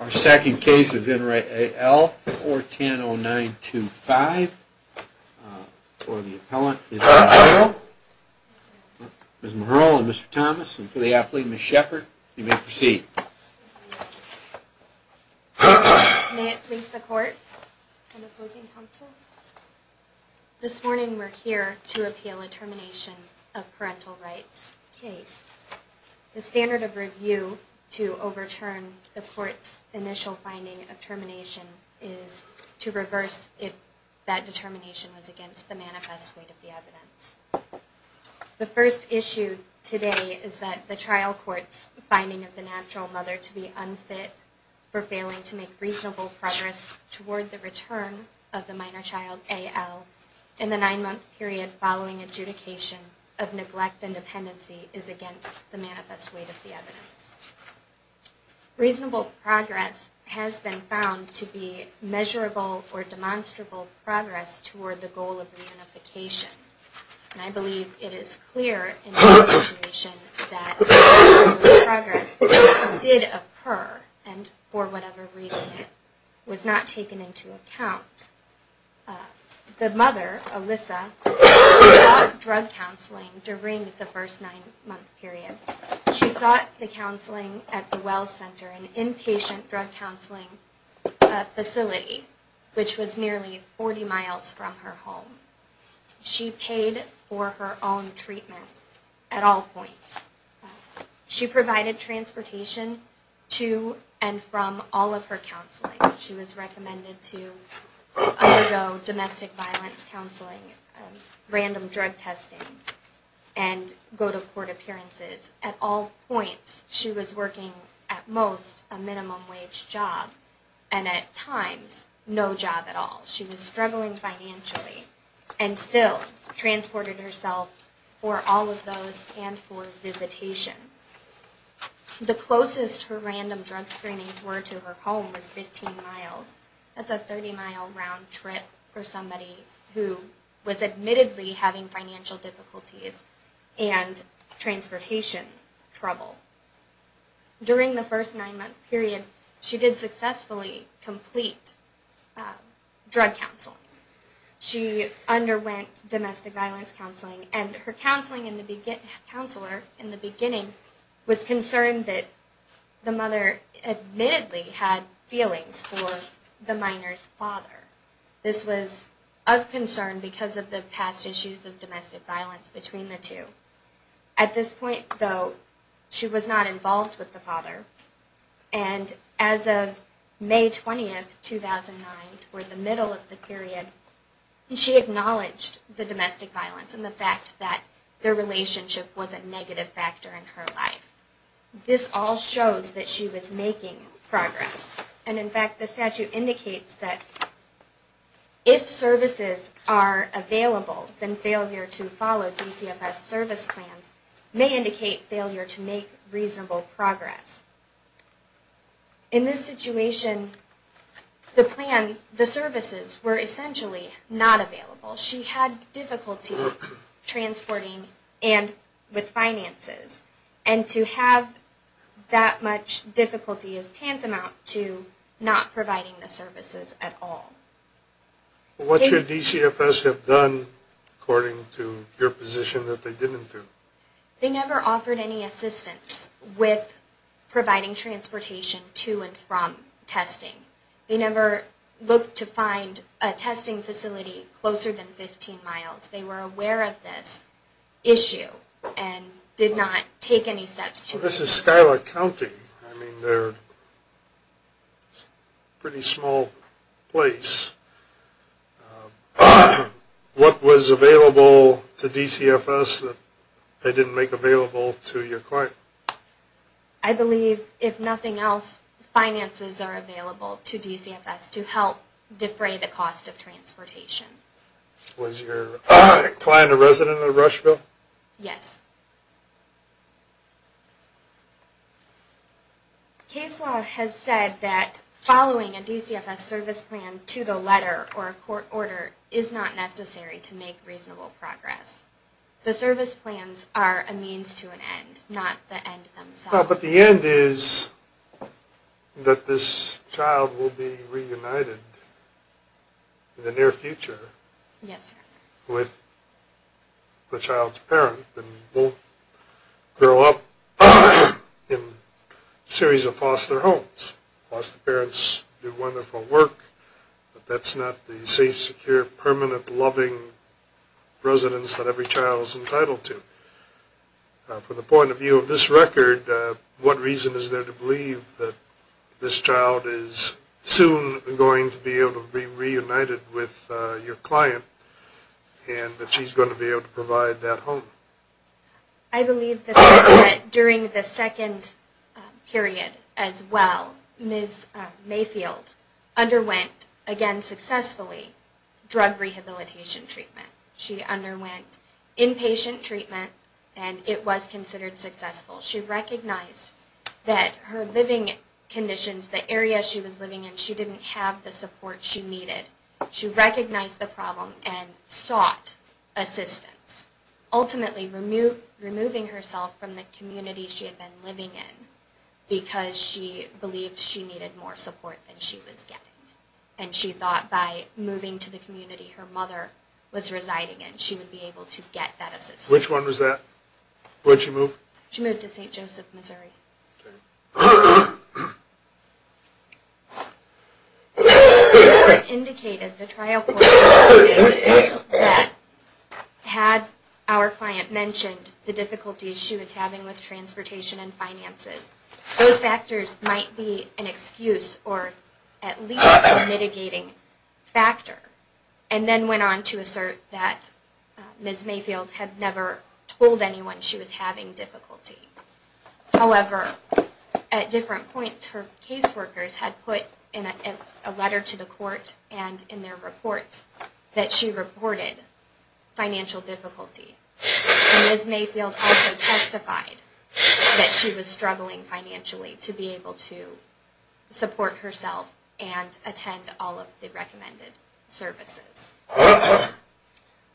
Our second case is in re A.L. 410-0925. For the appellant it's Ms. McHurl. Ms. McHurl and Mr. Thomas, and for the applicant Ms. Shepard, you may proceed. May it please the court and opposing counsel. This morning we're here to appeal a termination of parental rights case. The standard of review to overturn the court's initial finding of termination is to reverse if that determination was against the manifest weight of the evidence. The first issue today is that the trial court's finding of the natural mother to be unfit for failing to make reasonable progress toward the return of the minor child A.L. in the nine month period following adjudication of neglect and dependency is against the manifest weight of the evidence. Reasonable progress has been found to be measurable or demonstrable progress toward the goal of reunification. And I believe it is clear in this situation that reasonable progress did occur and for whatever reason it was not taken into account. The mother, Alyssa, sought drug counseling during the first nine month period. She sought the counseling at the Well Center, an inpatient drug counseling facility, which was nearly 40 miles from her home. She paid for her own treatment at all points. She provided transportation to and from all of her counseling. She was recommended to undergo domestic violence counseling, random drug testing, and go to court appearances at all points. She was working at most a minimum wage job and at times no job at all. She was struggling financially and still transported herself for all of those and for visitation. The closest her random drug screenings were to her home was 15 miles. That's a 30 mile round trip for somebody who was admittedly having financial difficulties and transportation trouble. During the first nine month period, she did successfully complete drug counseling. She underwent domestic violence counseling and her counselor in the beginning was concerned that the mother admittedly had feelings for the minor's father. This was of concern because of the past issues of domestic violence between the two. At this point, though, she was not involved with the father and as of May 20, 2009, or the middle of the period, she acknowledged the domestic violence and the fact that their relationship was a negative factor in her life. This all shows that she was making progress. And in fact, the statute indicates that if services are available, then failure to follow DCFS service plans may indicate failure to make reasonable progress. In this situation, the services were essentially not available. She had difficulty transporting and with finances. And to have that much difficulty is tantamount to not providing the services at all. What should DCFS have done according to your position that they didn't do? They never offered any assistance with providing transportation to and from testing. They never looked to find a testing facility closer than 15 miles. They were aware of this issue and did not take any steps to... This is Skylar County. I mean, they're a pretty small place. What was available to DCFS that they didn't make available to your client? I believe, if nothing else, finances are available to DCFS to help defray the cost of transportation. Was your client a resident of Rushville? Yes. Case law has said that following a DCFS service plan to the letter or a court order is not necessary to make reasonable progress. The service plans are a means to an end, not the end themselves. But the end is that this child will be reunited in the near future with the child's parent and won't grow up in a series of foster homes. Foster parents do wonderful work, but that's not the safe, secure, permanent, loving residence that every child is entitled to. From the point of view of this record, what reason is there to believe that this child is soon going to be able to be reunited with your client and that she's going to be able to provide that home? I believe that during the second period as well, Ms. Mayfield underwent, again successfully, drug rehabilitation treatment. She underwent inpatient treatment and it was considered successful. She recognized that her living conditions, the area she was living in, she didn't have the support she needed. She recognized the problem and sought assistance, ultimately removing herself from the community she had been living in because she believed she needed more support than she was getting. And she thought by moving to the community her mother was residing in, she would be able to get that assistance. Which one was that? Where'd she move? She moved to St. Joseph, Missouri. It indicated, the trial court indicated that had our client mentioned the difficulties she was having with transportation and finances, those factors might be an excuse or at least a mitigating factor. And then went on to assert that Ms. Mayfield had never told anyone she was having difficulty. However, at different points her caseworkers had put in a letter to the court and in their reports that she reported financial difficulty. Ms. Mayfield also testified that she was struggling financially to be able to support herself and attend all of the recommended services.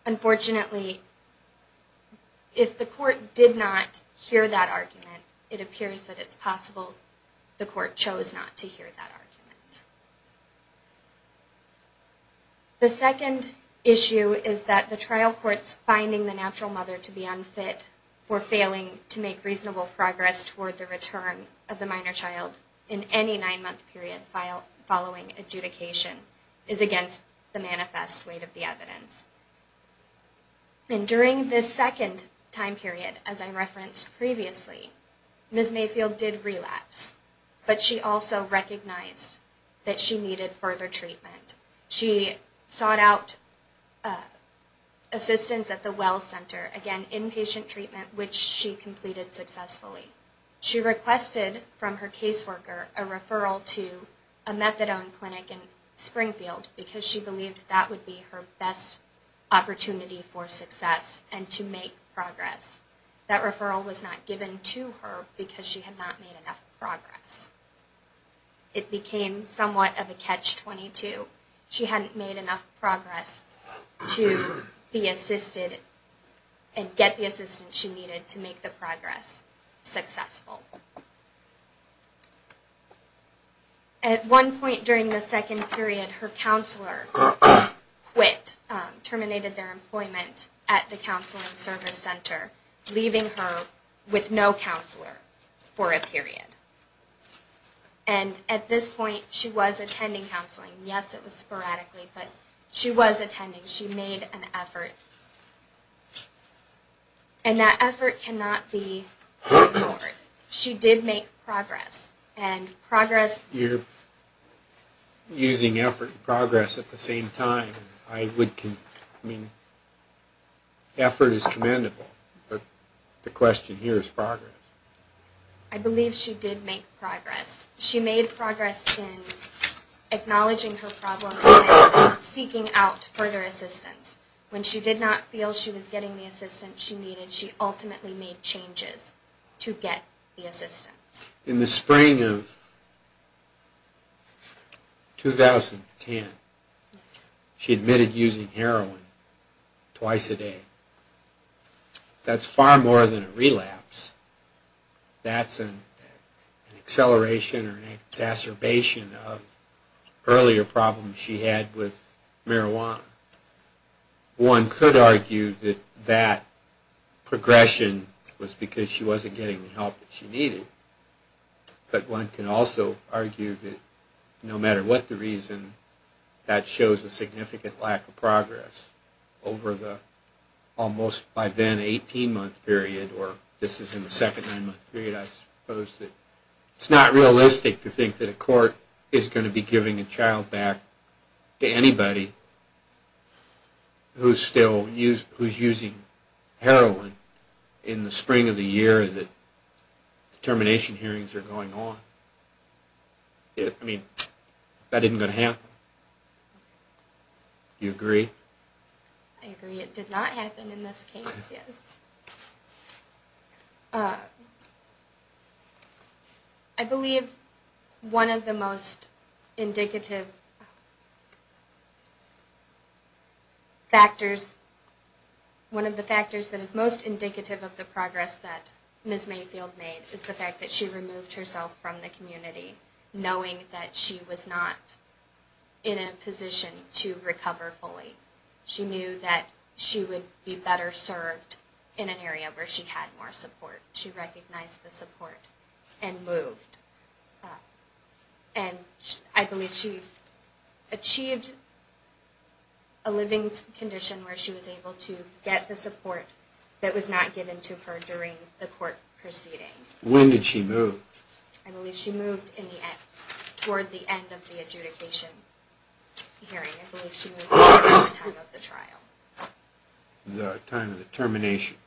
Unfortunately, if the court did not hear that argument, it appears that it's possible the court chose not to hear that argument. The second issue is that the trial court's finding the natural mother to be unfit for failing to make reasonable progress toward the return of the minor child in any nine month period following adjudication is against the manifest weight of the evidence. And during this second time period, as I referenced previously, Ms. Mayfield did relapse, but she also recognized that she needed further treatment. She sought out assistance at the Well Center, again inpatient treatment, which she completed successfully. She requested from her caseworker a referral to a methadone clinic in Springfield because she believed that would be her best opportunity for success and to make progress. That referral was not given to her because she had not made enough progress. It became somewhat of a catch-22. She hadn't made enough progress to be assisted and get the assistance she needed to make the progress successful. At one point during the second period, her counselor quit, terminated their employment at the Counseling Service Center, leaving her with no counselor for a period. And at this point, she was attending counseling. Yes, it was sporadically, but she was attending. She made an effort. And that effort cannot be ignored. She did make progress. You're using effort and progress at the same time. Effort is commendable, but the question here is progress. I believe she did make progress. She made progress in acknowledging her problems and seeking out further assistance. When she did not feel she was getting the assistance she needed, she ultimately made changes to get the assistance. In the spring of 2010, she admitted using heroin twice a day. That's far more than a relapse. That's an acceleration or an exacerbation of earlier problems she had with marijuana. One could argue that that progression was because she wasn't getting the help that she needed. But one can also argue that no matter what the reason, that shows a significant lack of progress over the almost by then 18-month period, or this is in the second nine-month period, I suppose. It's not realistic to think that a court is going to be giving a child back to anybody who's using heroin in the spring of the year that termination hearings are going on. I mean, that isn't going to happen. Do you agree? I agree. It did not happen in this case, yes. I believe one of the most indicative factors, one of the factors that is most indicative of the progress that Ms. Mayfield made is the fact that she removed herself from the community, knowing that she was not in a position to recover fully. She knew that she would be better served in an area where she had more support. She recognized the support and moved. And I believe she achieved a living condition where she was able to get the support that was not given to her during the court proceeding. When did she move? I believe she moved toward the end of the adjudication hearing. I believe she moved toward the time of the trial. The time of the termination.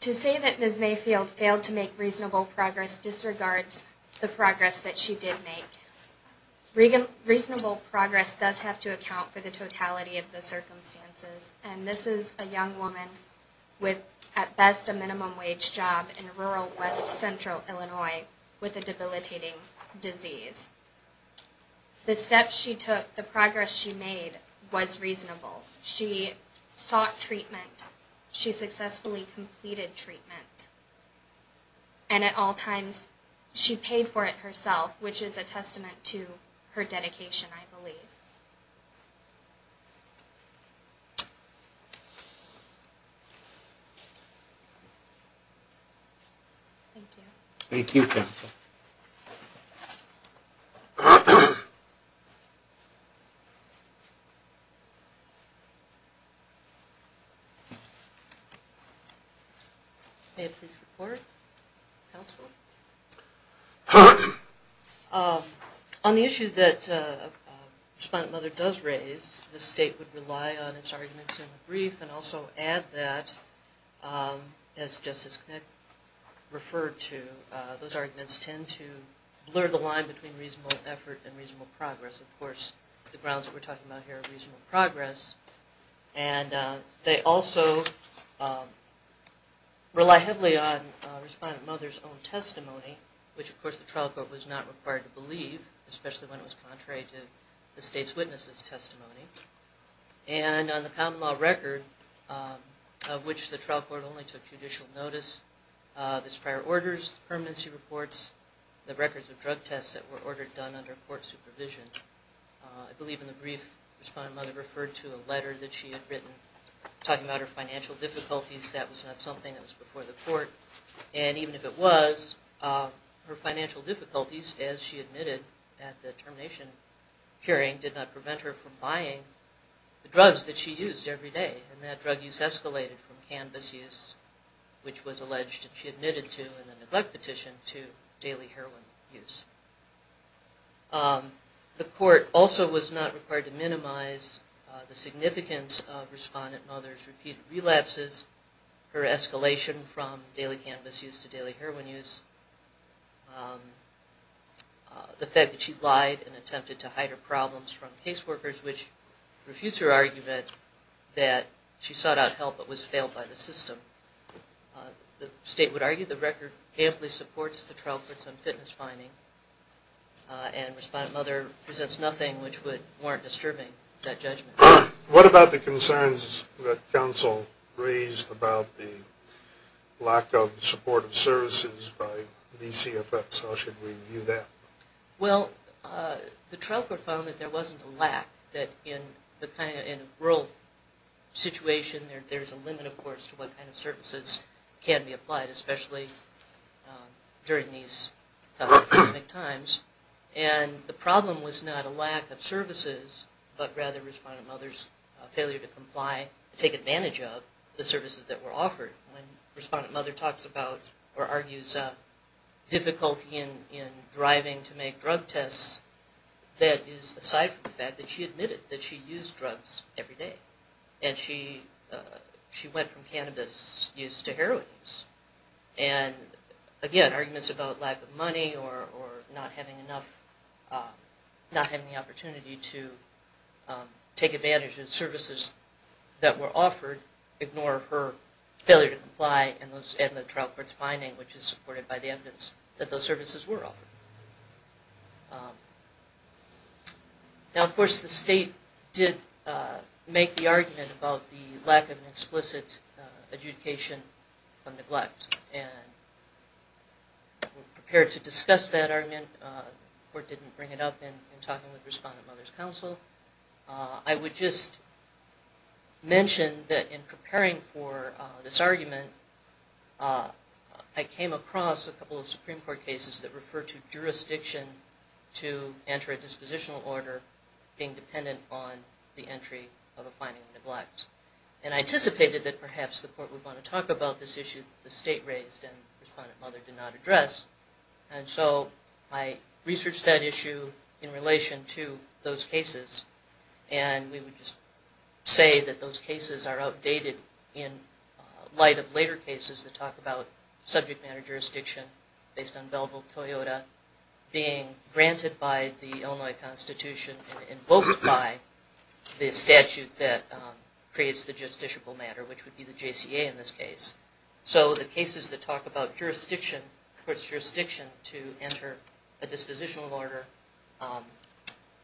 To say that Ms. Mayfield failed to make reasonable progress disregards the progress that she did make. Reasonable progress does have to account for the totality of the circumstances. And this is a young woman with, at best, a minimum wage job in rural west central Illinois with a debilitating disease. The steps she took, the progress she made was reasonable. She sought treatment. She successfully completed treatment. And at all times she paid for it herself, which is a testament to her dedication, I believe. Thank you. Thank you, counsel. May I please report, counsel? On the issue that Respondent Mother does raise, the state would rely on its arguments in the brief and also add that, as Justice Connick referred to, those arguments tend to blur the line between reasonable progress and reasonable failure. Reasonable effort and reasonable progress. Of course, the grounds we're talking about here are reasonable progress. And they also rely heavily on Respondent Mother's own testimony, which of course the trial court was not required to believe, especially when it was contrary to the state's witness' testimony. And on the common law record, of which the trial court only took judicial notice, there's prior orders, permanency reports, the records of drug tests that were ordered done by the state, that were done under court supervision. I believe in the brief Respondent Mother referred to a letter that she had written talking about her financial difficulties. That was not something that was before the court. And even if it was, her financial difficulties, as she admitted at the termination hearing, did not prevent her from buying the drugs that she used every day. And that drug use escalated from cannabis use, which was alleged that she admitted to in the neglect petition, to daily heroin use. The court also was not required to minimize the significance of Respondent Mother's repeated relapses, her escalation from daily cannabis use to daily heroin use. The fact that she lied and attempted to hide her problems from caseworkers, which refutes her argument that she sought out help but was failed by the system. The state would argue the record amply supports the trial court's own fitness finding, and Respondent Mother presents nothing which would warrant disturbing that judgment. What about the concerns that counsel raised about the lack of supportive services by DCFS? How should we view that? Well, the trial court found that there wasn't a lack, that in a rural situation, there's a limit, of course, to what kind of services are available. There's a limit to what kind of services can be applied, especially during these times. And the problem was not a lack of services, but rather Respondent Mother's failure to comply, take advantage of the services that were offered. When Respondent Mother talks about, or argues, difficulty in driving to make drug tests, that is aside from the fact that she admitted that she used drugs every day. And she went from cannabis use to heroin use. And, again, arguments about lack of money or not having the opportunity to take advantage of the services that were offered ignore her failure to comply and the trial court's finding, which is supported by the evidence that those services were offered. Now, of course, the state did make the argument about the lack of an explicit adjudication of neglect. And we're prepared to discuss that argument. The court didn't bring it up in talking with Respondent Mother's counsel. I would just mention that in preparing for this argument, I came across a couple of Supreme Court cases that referred to drug abuse as a problem. And I anticipated that perhaps the court would want to talk about this issue that the state raised and Respondent Mother did not address. And so I researched that issue in relation to those cases. And we would just say that those cases are outdated in light of later cases that talk about subject matter jurisdiction based on Belleville-Toyota. And those cases are being granted by the Illinois Constitution and invoked by the statute that creates the justiciable matter, which would be the JCA in this case. So the cases that talk about jurisdiction, court's jurisdiction to enter a dispositional order,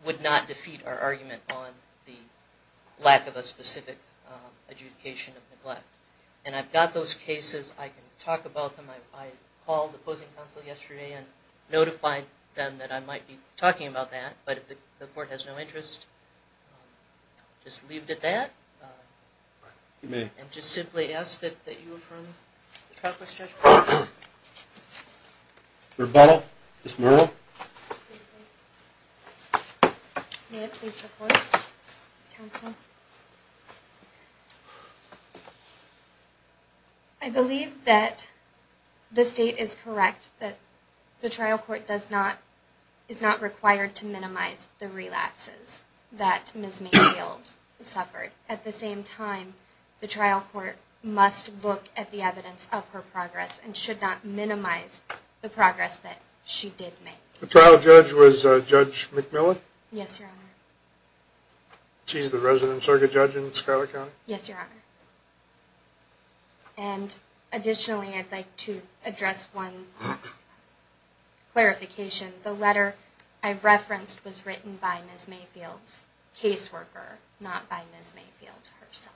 would not defeat our argument on the lack of a specific adjudication of neglect. And I've got those cases. I can talk about them. I called the opposing counsel yesterday and notified them that I might be talking about that. But if the court has no interest, I'll just leave it at that. And just simply ask that you affirm the track record. Rebuttal? Ms. Murrell? I believe that the state is correct that the trial court is not required to minimize the relapses that Ms. Mayfield suffered. At the same time, the trial court must look at the evidence of her progress and should not minimize the progress that she did make. The trial judge was Judge McMillan? Yes, Your Honor. She's the resident circuit judge in Schuyler County? Yes, Your Honor. And additionally, I'd like to address one clarification. The letter I referenced was written by Ms. Mayfield's caseworker, not by Ms. Mayfield herself.